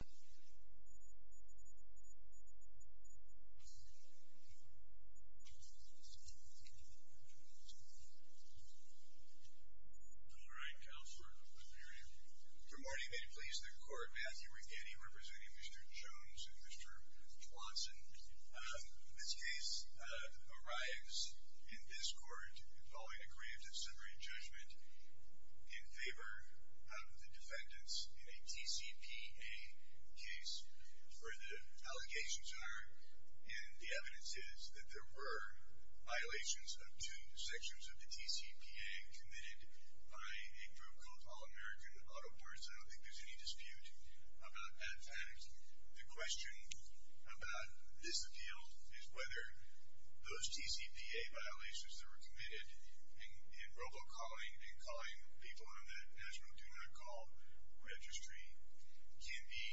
Good morning, may it please the Court, Matthew Righetti representing Mr. Jones and Mr. Johnson. This case arrives in this Court following a Graves of Summary Judgment in favor of the case where the allegations are, and the evidence is that there were violations of two sections of the TCPA committed by a group called All-American Auto Boards, I don't think there's any dispute about that fact. The question about this appeal is whether those TCPA violations that were committed in robocalling and calling people on that NASRO Do Not Call registry can be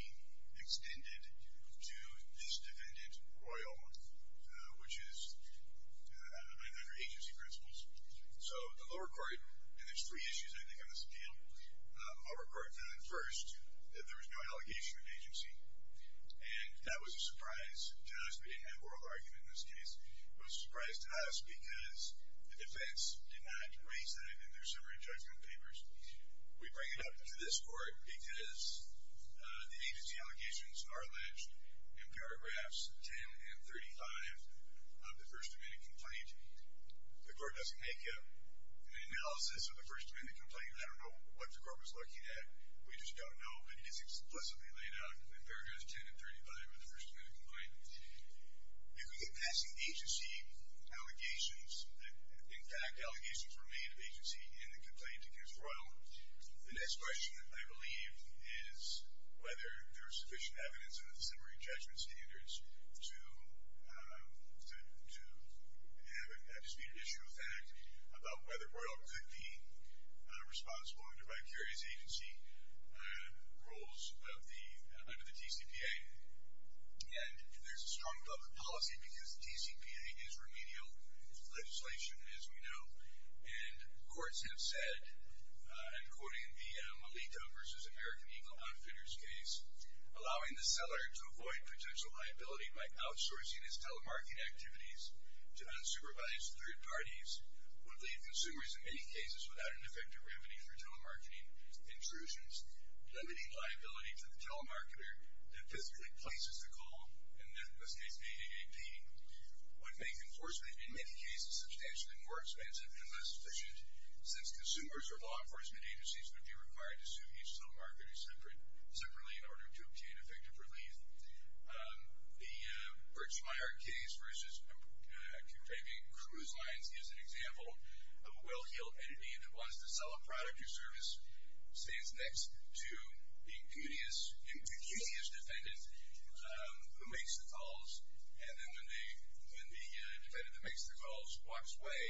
extended to this defendant, Royal, which is under agency principles. So the lower court, and there's three issues I think on this appeal, the lower court found first that there was no allegation of agency, and that was a surprise to us. We didn't have oral argument in this case. It was a surprise to us because the defense did not raise that in their summary judgment papers. We bring it up to this Court because the agency allegations are alleged in paragraphs 10 and 35 of the First Amendment complaint. The Court doesn't make an analysis of the First Amendment complaint. I don't know what the Court was looking at. We just don't know. It is explicitly laid out in paragraphs 10 and 35 of the First Amendment complaint. If we get passing agency allegations that in fact allegations remain of agency in the complaint against Royal, the next question I believe is whether there is sufficient evidence under the summary judgment standards to have a disputed issue with that about whether Royal could be responsible under vicarious agency rules under the TCPA. And there's a strong public policy because TCPA is remedial legislation, as we know, and courts have said, and quoting the Malika v. American Eagle Outfitters case, allowing the seller to avoid potential liability by outsourcing his telemarketing activities to unsupervised third parties would leave consumers in many cases without an effective remedy for telemarketing intrusions, limiting liability to the telemarketer that physically places the call, in this case the AADP, would make enforcement in many cases substantially more expensive and less efficient since consumers or law enforcement agencies would be required to sue each telemarketer separately in order to obtain effective relief. The Birchmire case versus King Craving Cruise Lines is an example of a well-heeled entity that wants to sell a product or service, stands next to the impudious defendant who makes the calls, and then when the defendant that makes the calls walks away,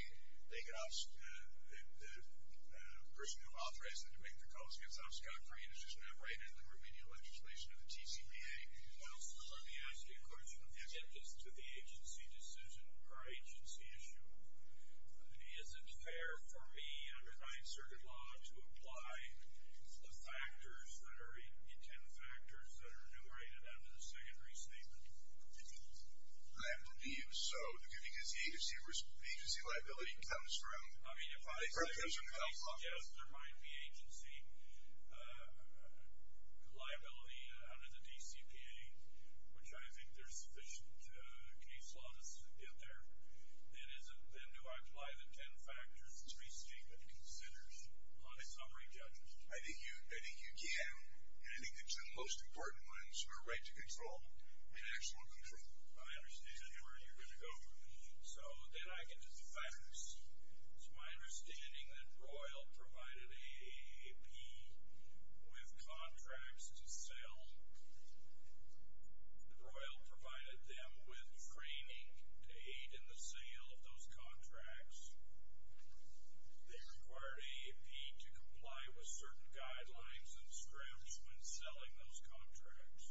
the person who authorized them to make the calls gets obfuscated for remedial legislation of the TCPA. Well, sir, let me ask you a question. Yes, sir. In addition to the agency decision or agency issue, is it fair for me, under my inserted law, to apply the factors that are intended factors that are enumerated under the secondary statement? I believe so, because the agency liability comes from the telephone. Yes, there might be agency liability under the DCPA, which I think there's sufficient case law to get there. Then do I apply the ten factors that the statement considers on a summary judgment? I think you can, and I think the two most important ones are right to control and actual control. I understand. I can tell you where you're going to go from here. So then I can do the factors. It's my understanding that Royal provided AAP with contracts to sell, that Royal provided them with framing to aid in the sale of those contracts. They required AAP to comply with certain guidelines and scripts when selling those contracts.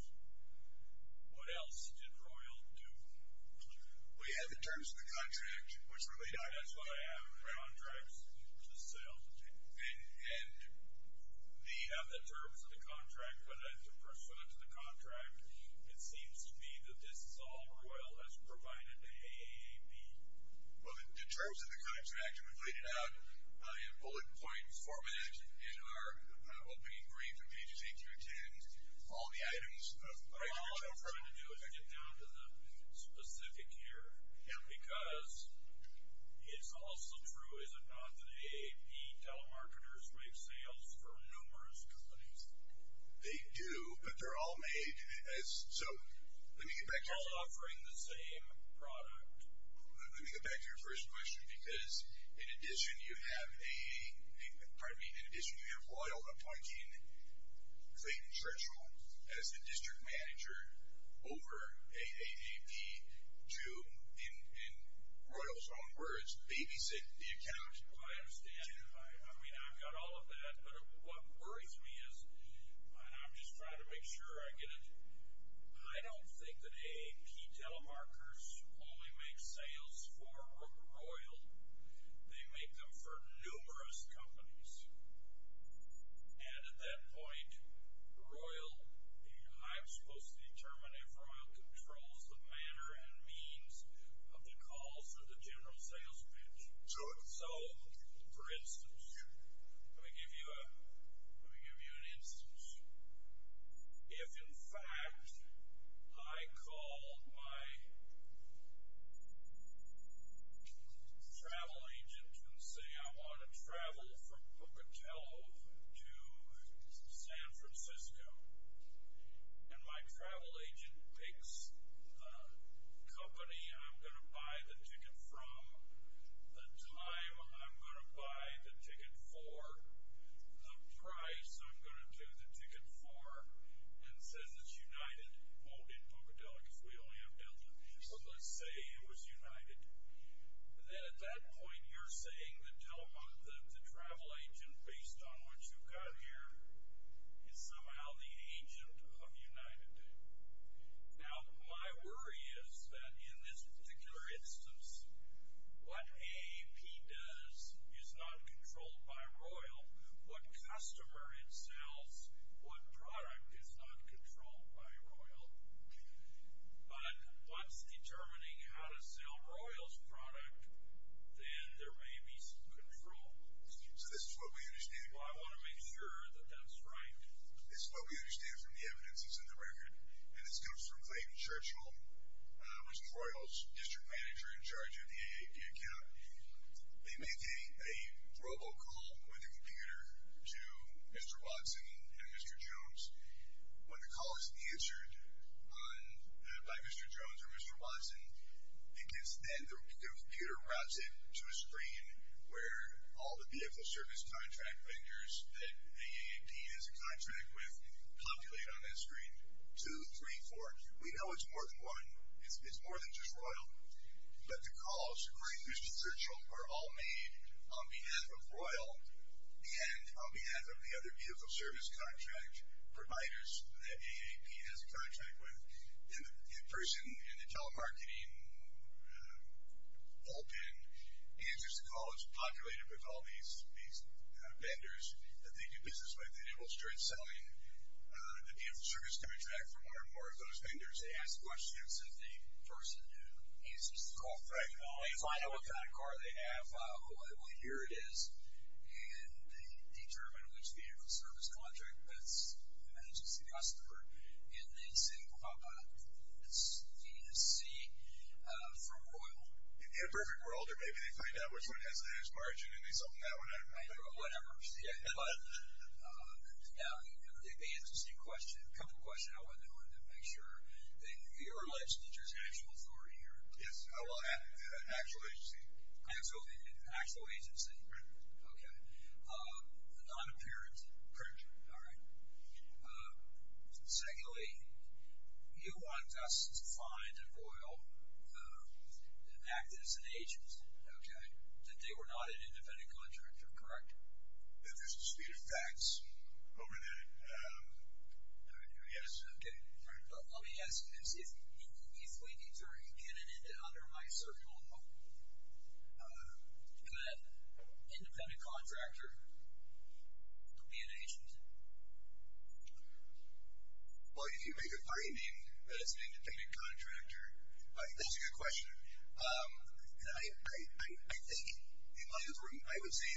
What else did Royal do? Well, you have the terms of the contract, which relate to AAP. That's what I have, contracts to sell. And they have the terms of the contract, but I have to refer that to the contract. It seems to me that this is all Royal has provided to AAP. Well, the terms of the contract are related out in bullet point format in our opening brief of A to Z through 10, all the items. All I'm trying to do is get down to the specific here. Yeah. Because it's also true, is it not, that AAP telemarketers make sales for numerous companies? They do, but they're all made as, so let me get back to you. All offering the same product. Let me get back to your first question, because in addition you have a, pardon me, in addition you have Royal appointing Clayton Churchill as the district manager over AAP to, in Royal's own words, babysit the account. I understand. I mean, I've got all of that, but what worries me is, and I'm just trying to make sure I get it, I don't think that AAP telemarketers only make sales for Royal. They make them for numerous companies. And at that point, Royal, I'm supposed to determine if Royal controls the manner and means of the calls for the general sales pitch. So, for instance, let me give you an instance. If, in fact, I call my travel agent and say I want to travel from Pocatello to San Francisco, and my travel agent picks the company I'm going to buy the ticket from, the time I'm going to do the ticket for, and says it's United, hold in Pocatello, because we only have Delta. So let's say it was United. Then at that point, you're saying the travel agent, based on what you've got here, is somehow the agent of United. Now, my worry is that in this particular instance, what AAP does is not controlled by Royal. What customer it sells, what product, is not controlled by Royal. But once determining how to sell Royal's product, then there may be some control. So this is what we understand. Well, I want to make sure that that's right. This is what we understand from the evidences in the record, and this comes from Clayton Churchill, who's Royal's district manager in charge of the AAP account. They make a robocall with the computer to Mr. Watson and Mr. Jones. When the call is answered by Mr. Jones or Mr. Watson, it gets then, the computer routes it to a screen where all the vehicle service contract vendors that AAP has a contract with populate on that screen. Two, three, four. We know it's more than one. But the calls to Clayton Churchill were all made on behalf of Royal and on behalf of the other vehicle service contract providers that AAP has a contract with. And the person in the telemarketing bullpen answers the call. It's populated with all these vendors that they do business with. And it will start selling the vehicle service contract for one or more of those vendors. They ask questions of the person who answers the call. They find out what kind of car they have. Well, here it is. And they determine which vehicle service contract that's an agency customer. And they say, well, it's V to C from Royal. In a perfect world, or maybe they find out which one has the highest margin, and they sell them that one. I don't know. Whatever. Now, you answered a couple of questions. I wanted to make sure. You're alleged to be an international authority here. Yes, I will. Actual agency. Right. Okay. Non-appearance. Correct. All right. Secondly, you want us to find at Royal an act that's an agency. Okay. That they were not an independent contractor. Correct? If there's the speed of facts, over that. Yes. Okay. All right. Let me ask you this. If we determine in and under my circle, could an independent contractor be an agent? Well, if you make a finding that it's an independent contractor, that's a good question. And I think in light of, I would say,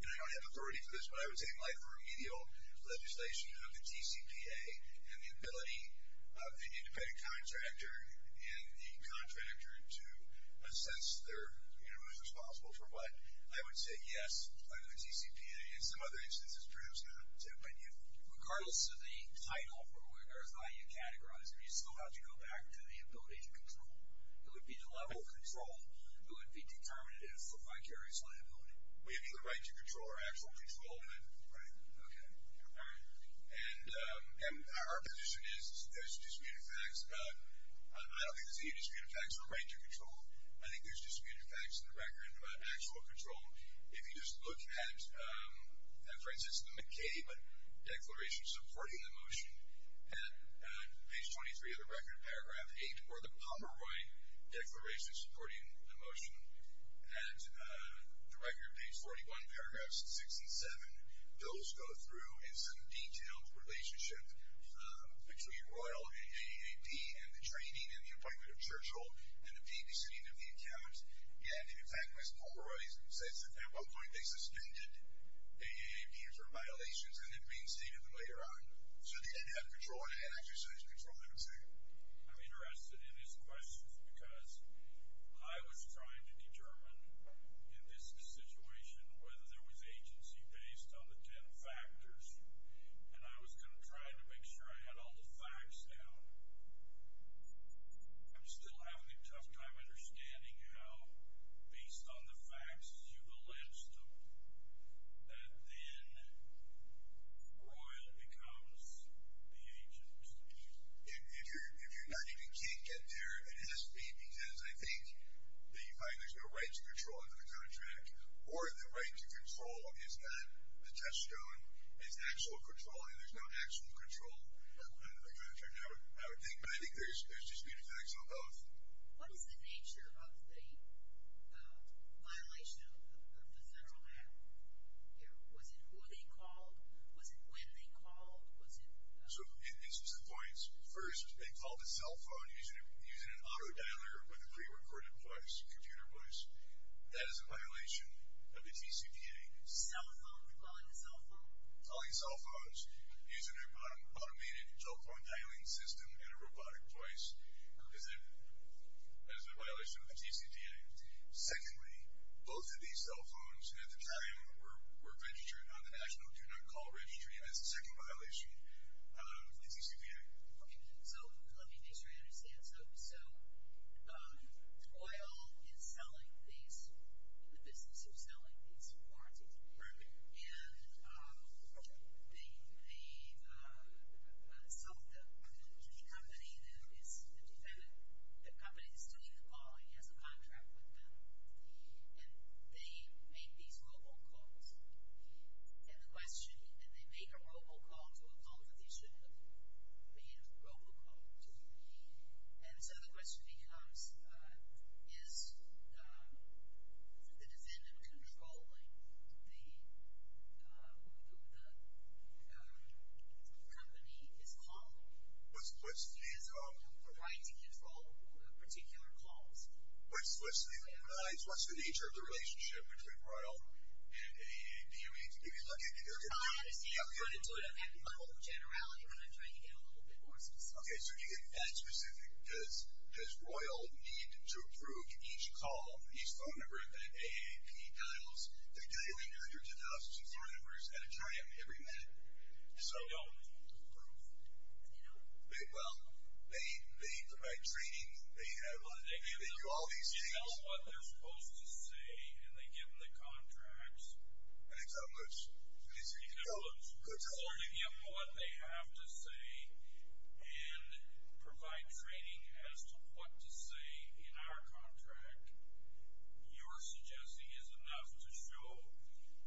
and I don't have authority for this, but I would say in light of remedial legislation of the TCPA and the ability of an independent contractor and the contractor to assess their, you know, who's responsible for what, I would say yes, under the TCPA. In some other instances, perhaps not. Tim, what do you think? Regardless of the title from where there's value categorized, if you still have to go back to the ability to control, it would be the level of control that would be determinative for vicarious liability. Would it be the right to control or actual control? Right. Okay. All right. And our position is there's the speed of facts. I don't think there's any speed of facts or right to control. I think there's speed of facts in the record about actual control. If you just look at, for instance, the McCabe Declaration supporting the motion, and page 23 of the record, paragraph 8, or the Pomeroy Declaration supporting the motion, and the record, page 41, paragraphs 6 and 7, those go through in some detailed relationship between Royal and AAAP and the training and the appointment of Churchill and the babysitting of the account. And, in fact, as Pomeroy says at that one point, they suspended AAAP for violations and then reinstated them later on. So, in the end, you had control. In the end, actually, you said you controlled everything. I'm interested in his questions because I was trying to determine, in this situation, whether there was agency based on the 10 factors, and I was kind of trying to make sure I had all the facts down. I'm still having a tough time understanding how, based on the facts, you've elipsed them, that then Royal becomes the agent. If you can't get there, it has to be because I think that you find there's no right to control under the contract, or the right to control is that the test stone is actual control and there's no actual control under the contract, I would think. But I think there's dispute effects on both. What is the nature of the violation of the central app? Was it who they called? Was it when they called? So, in instance of points, first, they called a cell phone using an auto dialer with a pre-recorded place, a computer place. That is a violation of the TCPA. Cell phone? Calling a cell phone? Calling cell phones using an automated telephone dialing system in a robotic place. That is a violation of the TCPA. Secondly, both of these cell phones at the time were registered on the National Do Not Call Registry, and that's the second violation of the TCPA. Okay, so let me make sure I understand. So, Royal is selling these, the business is selling these cards. Right. And they sold them to the company that is the defendant. The company is still even calling as a contract with them. And they made these robocalls. And the question, and they make a robocall to a call that they should have made a robocall to. And so the question becomes, is the defendant controlling the, who the company is calling? What's the? The right to control the particular calls. What's the, what's the nature of the relationship between Royal and, do you mean to give me like a. I understand, but I'm going to do it at the level of generality when I'm trying to get a little bit more specific. Okay, so to get that specific, does, does Royal need to approve each call, each phone number that AAP dials? And again, you have your 10,000 phone numbers at a time every minute. So. They don't need to approve. Well, they, by training, they have, they do all these things. They know what they're supposed to say, and they give them the contracts. And it's how much? It's how much. They know what they have to say and provide training as to what to say in our contract. You're suggesting is enough to show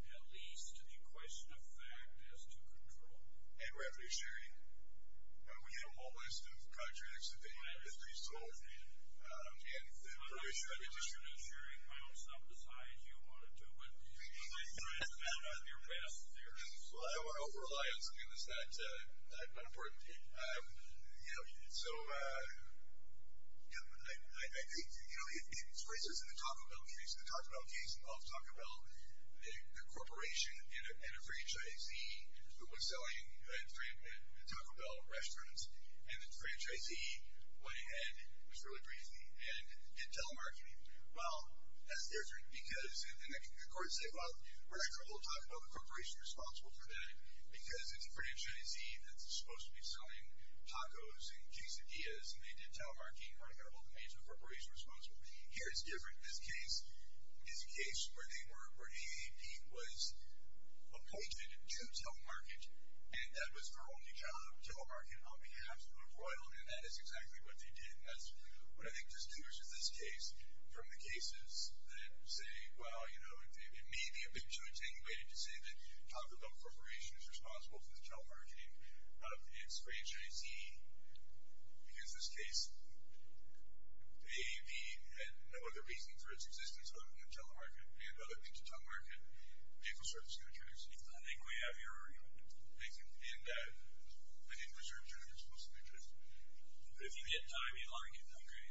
at least a question of fact as to control. And referee sharing. We have a whole list of contracts that the defendant has resolved. And the referee sharing. In addition to sharing, I know some besides you want to do it. Well, I don't want to over-rely on something that's that unimportant. You know, so, you know, I think, you know, it raises the Taco Bell case. The Taco Bell case involved Taco Bell, the corporation, and a franchisee who was selling at Taco Bell restaurants. And the franchisee went ahead, it was really briefly, and did telemarketing. Well, that's different because, and the court said, well, we're not going to talk about the corporation responsible for that because it's a franchisee that's supposed to be selling tacos and quesadillas, and they did telemarketing. We're not going to hold the major corporation responsible. Here it's different. This case is a case where they were, where the AAP was appointed to telemarket, and that was her only job, telemarket, on behalf of the royalty, and that is exactly what they did. That's what I think distorts this case from the cases that say, well, you know, it may be a bit too intenuated to say that Taco Bell Corporation is responsible for the telemarketing of its franchisee, because this case, AAP had no other reason for its existence other than to telemarket. We had no other reason to telemarket vehicle service contributors. I think we have your argument. And I think the service contributors were supposed to be interested. But if you get time, you might get hungry.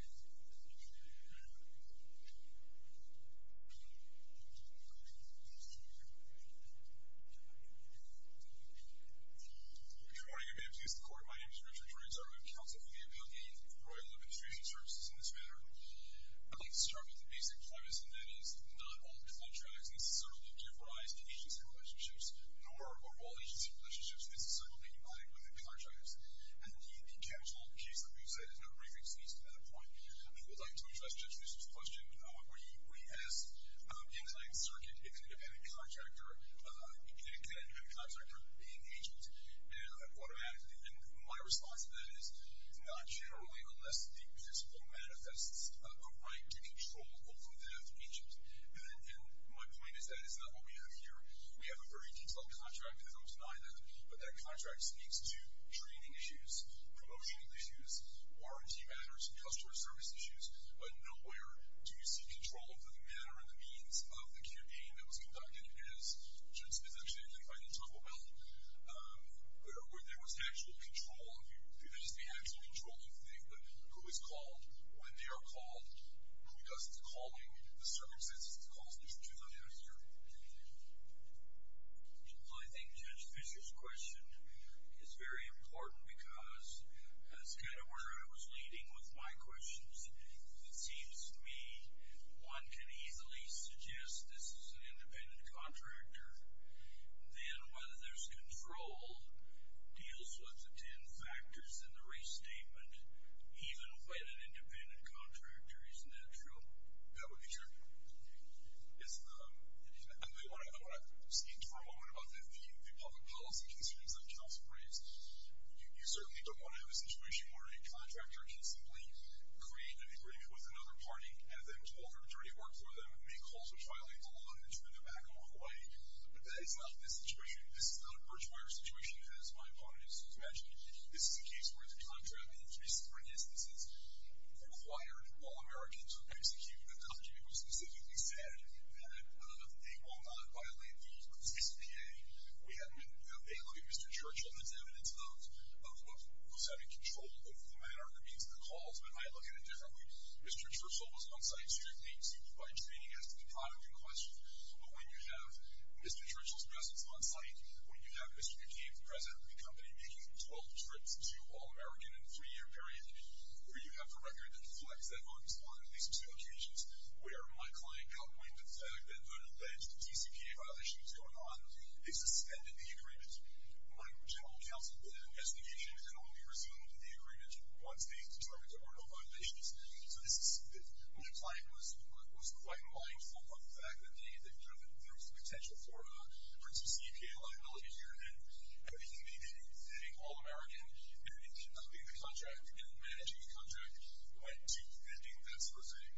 Good morning. Good day to you. This is the court. My name is Richard Ruiz. I'm a counsel for the AAP and the Royal Administration Services in this matter. I'd like to start with the basic premise, and that is that not all contractors necessarily give rise to agency relationships, nor are all agency relationships necessarily provided by the contractors. And the casual case that we've said has no reference to that point. I would like to address Judge Ruiz's question, where he has inclined circuit if an independent contractor, independent and independent contractor, being agent, and automatically. And my response to that is not generally, unless the principle manifests a right to control over that agent. And my point is that is not what we have here. We have a very detailed contract that helps deny that. But that contract speaks to training issues, promotion issues, warranty matters, and customer service issues. But nowhere do you see control for the manner and the means of the QB that was conducted as Judge Spitzens did. And if I didn't talk about it, there was actual control on who does the actual controlling thing. But who is called, when they are called, who does the calling, the circumstances of the calls, and there's a truth on that here. Well, I think Judge Fischer's question is very important because that's kind of where I was leading with my questions. It seems to me one can easily suggest this is an independent contractor, then whether there's control deals with the ten factors in the restatement, even when an independent contractor is natural. That would be true. I want to speak for a moment about the public policy concerns that counsel brings. You certainly don't want to have a situation where a contractor can simply create an agreement with another party and then hold their dirty work for them and make calls which violate the law and then turn them back on Hawaii. But that is not this situation. This is not a birch wire situation, as my opponents have imagined. This is a case where the contract in three separate instances required all Americans to execute. The country was specifically said that they will not violate the CCPA. We have a lawyer, Mr. Churchill, that's evidence of who's having control over the manner and the means of the calls. But I look at it differently. Mr. Churchill was on-site strictly by training as to the product in question. But when you have Mr. Churchill's presence on-site, when you have Mr. McCain, the president of the company, making 12 trips to all American in a three-year period, where you have the contractor that deflects that on-site on these two occasions where my client got wind of the fact that the alleged CCPA violation was going on, they suspended the agreement. My general counsel then has negated and only resumed the agreement once they determined there were no violations. So this is something that my client was quite mindful of the fact that there was potential for a CCPA liability here. And he did the same thing, all American, and in conducting the contract and in managing the contract, went to ending that sort of thing.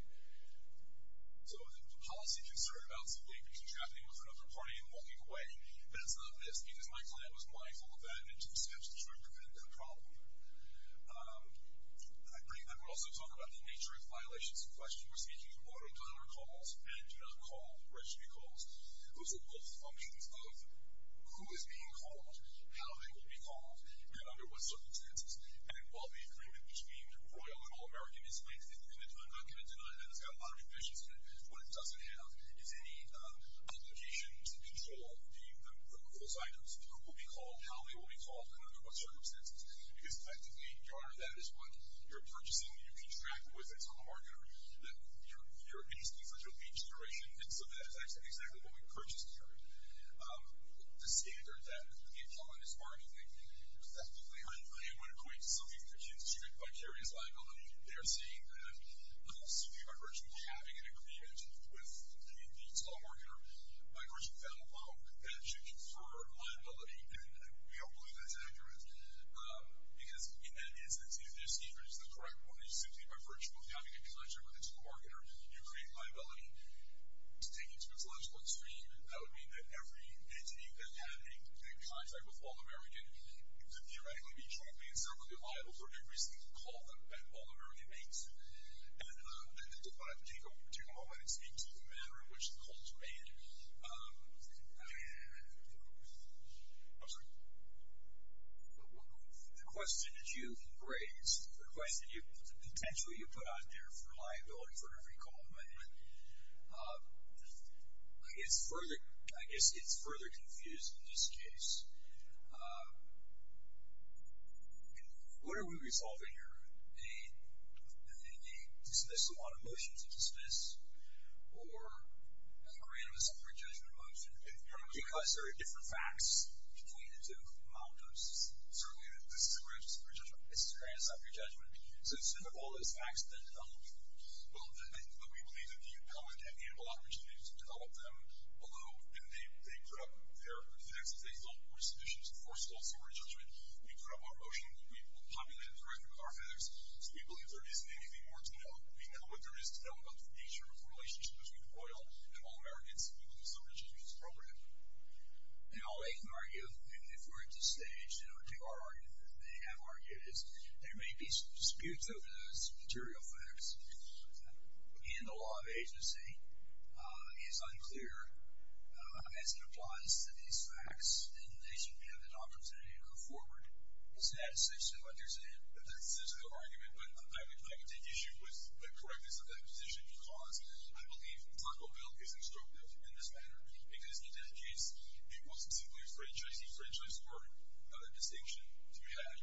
So the policy concern about simply contracting with another party and walking away, that's not missed because my client was mindful of that and took steps to try to prevent that problem. I would also talk about the nature of violations in question. We're speaking in order to honor calls and do not call registry calls. Those are both functions of who is being called, how they will be called, and under what circumstances. And while the agreement, which being royal and all-American, is in the document, and I'm not going to deny that, it's got a lot of conditions in it, what it doesn't have is any obligation to control those items, who will be called, how they will be called, and under what circumstances. Because effectively, Your Honor, that is what you're purchasing. You contract with a telemarketer. You're basically such a leech generation. And so that is exactly what we purchased here. The standard that the telemarketer is marketing effectively. I am going to point to something that's considered vicarious liability. They are saying that simply by virtue of having an agreement with the telemarketer, by virtue of that alone, that should confer liability. And we don't believe that's accurate. Because in that instance, if their standard is the correct one, it's simply by virtue of having a connection with a telemarketer, you create liability. To take it to a telemetrical extreme, that would mean that every entity that had any contact with all-American could theoretically be truly and certainly liable for every single call that all-American makes. And I'm going to take a moment and speak to the manner in which the calls were made. I'm sorry. The question that you raised, the question you potentially put out there for liability for every call made, I guess it's further confused in this case. What are we resolving here? A dismissal on a motion to dismiss? Or a grant of a separate judgment motion? Because there are different facts to point into. Certainly, this is a grant of separate judgment. This is a grant of separate judgment. So instead of all those facts, then develop them. Well, we believe that the incumbent can handle opportunities to develop them. Although, if they put up their facts, if they fill up those submissions, first of all, it's a separate judgment. We put up our motion. We populated it correctly with our facts. So we believe there isn't anything more to know. We know what there is to know about the nature of the relationship between oil and all-Americans. And all they can argue, and if we're at this stage, our argument that they have argued is there may be some disputes over those material facts. And the law of agency is unclear as it applies to these facts. And they should have an opportunity to go forward. Is that essentially what you're saying? That's essentially the argument. But I would take issue with the correctness of that position because I believe the title bill is instructive. In this matter, because it indicates it wasn't simply franchisee-franchisee work. Another distinction to be had.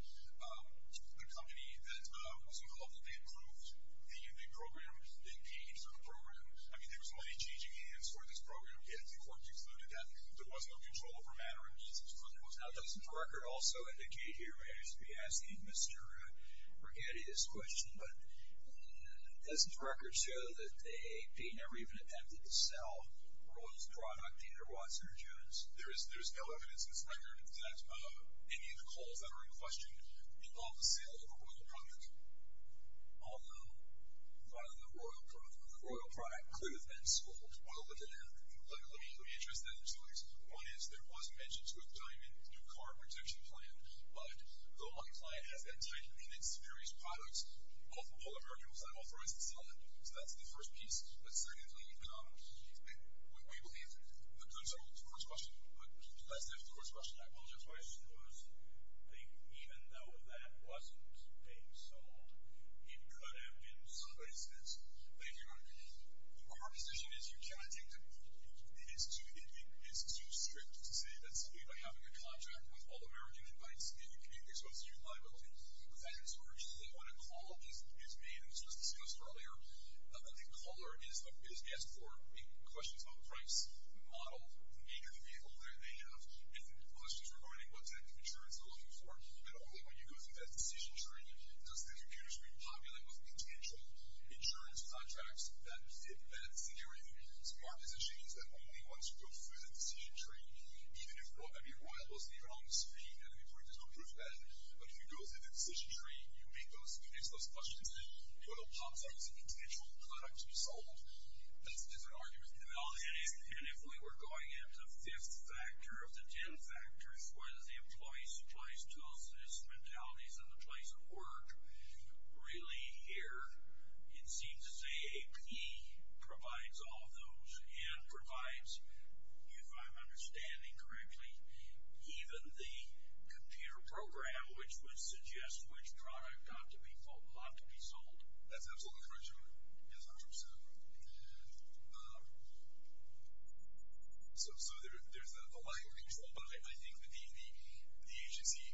The company that was involved in it proved a unique program. They paid for the program. I mean, there was money changing hands for this program, yet the court concluded that there was no control over manner in which this program was held. Doesn't the record also indicate here, and I should be asking Mr. Brighetti this question, but doesn't the record show that they never even attempted to sell Royal's product, either Watson or Jones? There's no evidence that's there. In fact, any of the calls that are in question involve the sale of a Royal product. Although, the Royal product could have been sold. Well, look at that. Look, let me address that in two ways. One is there was mention to a diamond in the car protection plan. But the law client has been taking in its various products. All American was unauthorized to sell them. So that's the first piece. But secondly, we believe the goods are the first question. But that's not the first question. I apologize. My question was, even though that wasn't being sold, it could have been somebody's goods. Thank you, Your Honor. Our position is you cannot take them. It is too strict to say that somebody, by having a contract with all American invites, maybe can be exposed to liability. With that in sort of view, though, when a call is made, and this was discussed earlier, a caller is asked for questions about the price model, make of the vehicle that they have, and questions regarding what type of insurance they're looking for. And only when you go through that decision tree does the computer screen populate with potential insurance contracts that advance the area. So our position is that only once you go through that decision tree, even if you're on the screen and the computer's not proofread, but if you go through the decision tree, you make those questions, you're going to pop out as a potential product to be sold. That's an argument. And if we were going into the fifth factor of the ten factors, whether it's the employees, supplies, tools, systems, mentalities, and the place of work, really here, it seems to say AP provides all of those and provides, if I'm understanding correctly, even the computer program, which would suggest which product ought to be sold. That's absolutely correct, Joe. Yes, I'm sure so. So there's the liability control, but I think the agency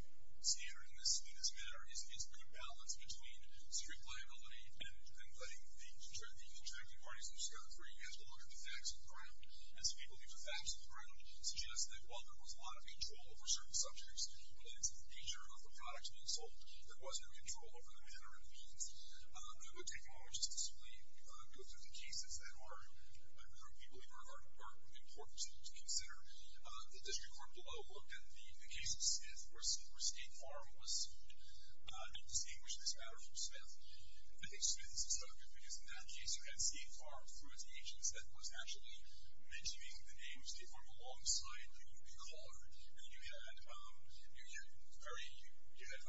standard, in the sweetest manner, is a good balance between strict liability and letting the contracting parties, which are the three guys belonging to the facts of the ground. And so we believe the facts of the ground suggest that while there was a lot of control over certain subjects related to the nature of the product being sold, there was no control over the manner and the means. I would take a moment to just briefly go through the cases that we believe are important to consider. The district court below looked at the case of Smith where State Farm was sued. They distinguished this matter from Smith. I think Smith's is so good because in that case you had State Farm through its agents that was actually mentioning the name of State Farm alongside a caller, and you had very good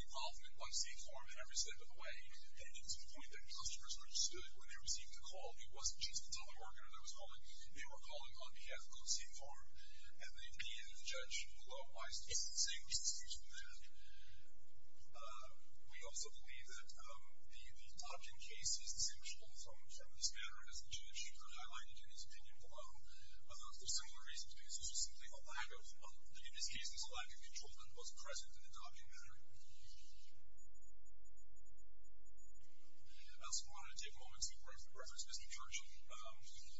involvement by State Farm in every step of the way. And to the point that customers understood when they received the call, it wasn't just the teleworker that was calling. They were calling on behalf of both State Farm. And in the end, the judge law-advised it. It's the same excuse from there. We also believe that the Dockin case is distinguishable from this matter, and as the judge highlighted in his opinion below, there's similar reasons because there's simply a lack of control that was present in the Dockin matter. I also want to take a moment to reference Mr. Churchill.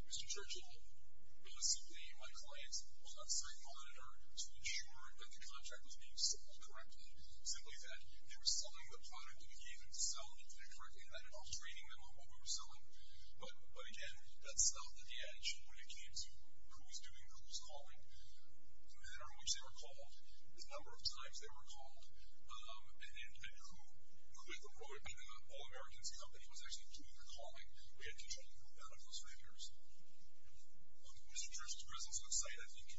Mr. Churchill was simply my client's left-side monitor to ensure that the contract was being sold correctly, simply that they were selling the product that he gave them to sell, and if they did it correctly, then I was trading them on what we were selling. But, again, that sell at the edge when it came to who was doing who's calling, the manner in which they were called, the number of times they were called, and who could avoid it. The All-Americans Company was actually doing the calling. We had control of who got on those vendors. On Mr. Churchill's business website, I think, he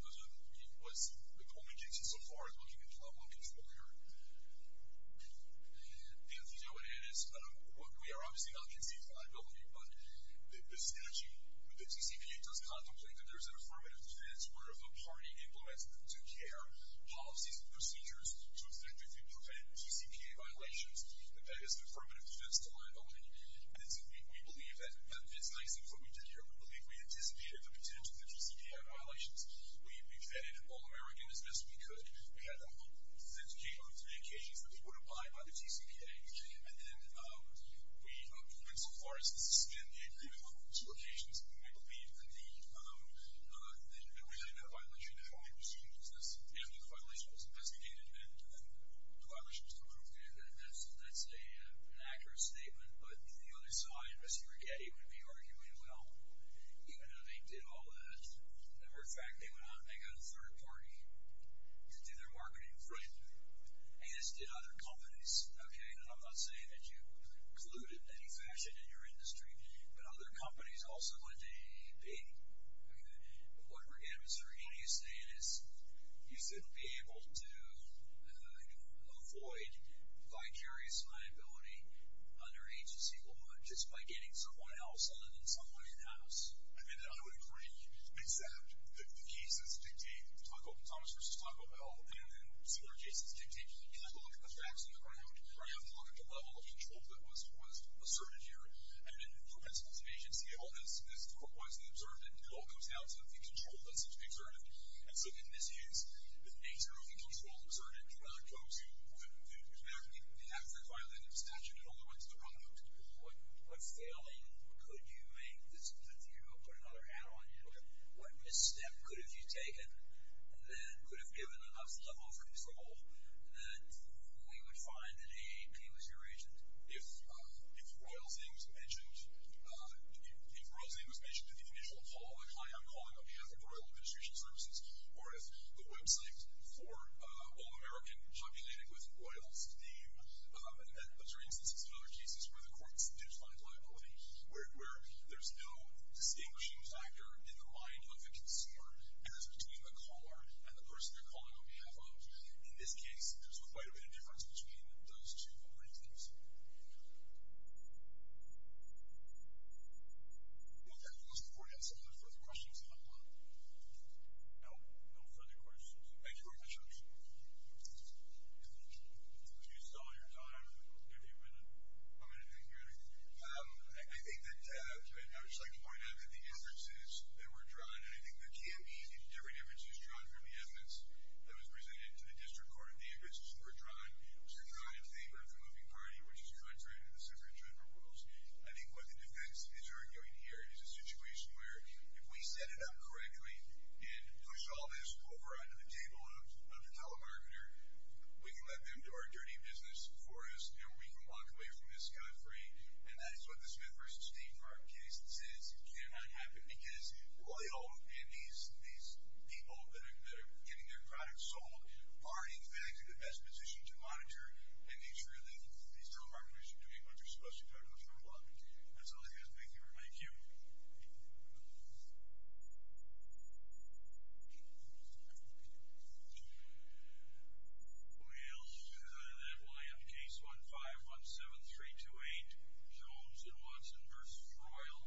was the only agency so far looking at problem control here. And the deal with it is we are obviously not conceding liability, but this energy, the TCPA does contemplate that there's an affirmative defense where if a party implements the do-care policies and procedures to effectively prevent TCPA violations, that that is an affirmative defense to liability. And so we believe that that fits nicely with what we did here. We believe we anticipated the potential of the TCPA violations. We defended All-American as best we could. We had the hope that it would take on three occasions that it would apply by the TCPA. And then we went so far as to suspend the agreement on those two occasions. And we believe, indeed, that we had a violation of the calling procedure because after the violation was investigated, then the violations were approved. Okay, that's an accurate statement. But the other side, Mr. Righetti, would be arguing, well, even though they did all that, as a matter of fact, they got a third party to do their marketing for it, as did other companies, okay? And I'm not saying that you colluded in any fashion in your industry, but other companies also went to AAP. What, again, Mr. Righetti is saying is you shouldn't be able to avoid vicarious liability under agency law just by getting someone else on it in some way in-house. I mean, I would agree, except that the case as dictated, Thomas v. Taco Bell, and then Senator Jason's dictation, you have to look at the facts on the ground. You have to look at the level of control that was asserted here. I mean, for principles of agency, all this was observed, and it all comes down to the control that seems to be asserted. And so in this case, the nature of the control is asserted for other folks who would have to violate a statute in order to enter the product. What failing could you make that seems like you could put another hat on you? What misstep could have you taken and then could have given enough level of control that we would find that AAP was your agent? If Royal's name was mentioned in the initial call, like, hi, I'm calling on behalf of Royal Administration Services, or if the website for All American populated with Royal's name, but there are instances in other cases where the courts do find liability, where there's no distinguishing factor in the mind of the consumer as between the caller and the person they're calling on behalf of. In this case, there's quite a bit of difference between those two. What do you think, sir? Okay. We'll support that. Are there further questions on that? No? No further questions. Thank you very much. I appreciate it. Thank you. If you stall your time, I'll give you a minute. I'm going to thank you very much. I think that I would just like to point out that the inferences that were drawn, and I think there can be different inferences drawn from the evidence that was presented to the District Court of Amherst that were drawn, were drawn in favor of the moving party, which is contrary to the circuit general rules. I think what the defense is arguing here is a situation where if we set it up correctly and push all this over onto the table of the telemarketer, we can let them do our dirty business for us, and we can walk away from this scot-free, and that's what the Smith v. Steenhart case says cannot happen, because Royal and these people that are getting their products sold aren't, in fact, in the best position to monitor and make sure that these telemarketers are doing what they're supposed to do. I know that's not a lot. That's all I have. Thank you very much. Thank you. We'll move on to that one. Case 1517328, Jones and Watson v. Royal.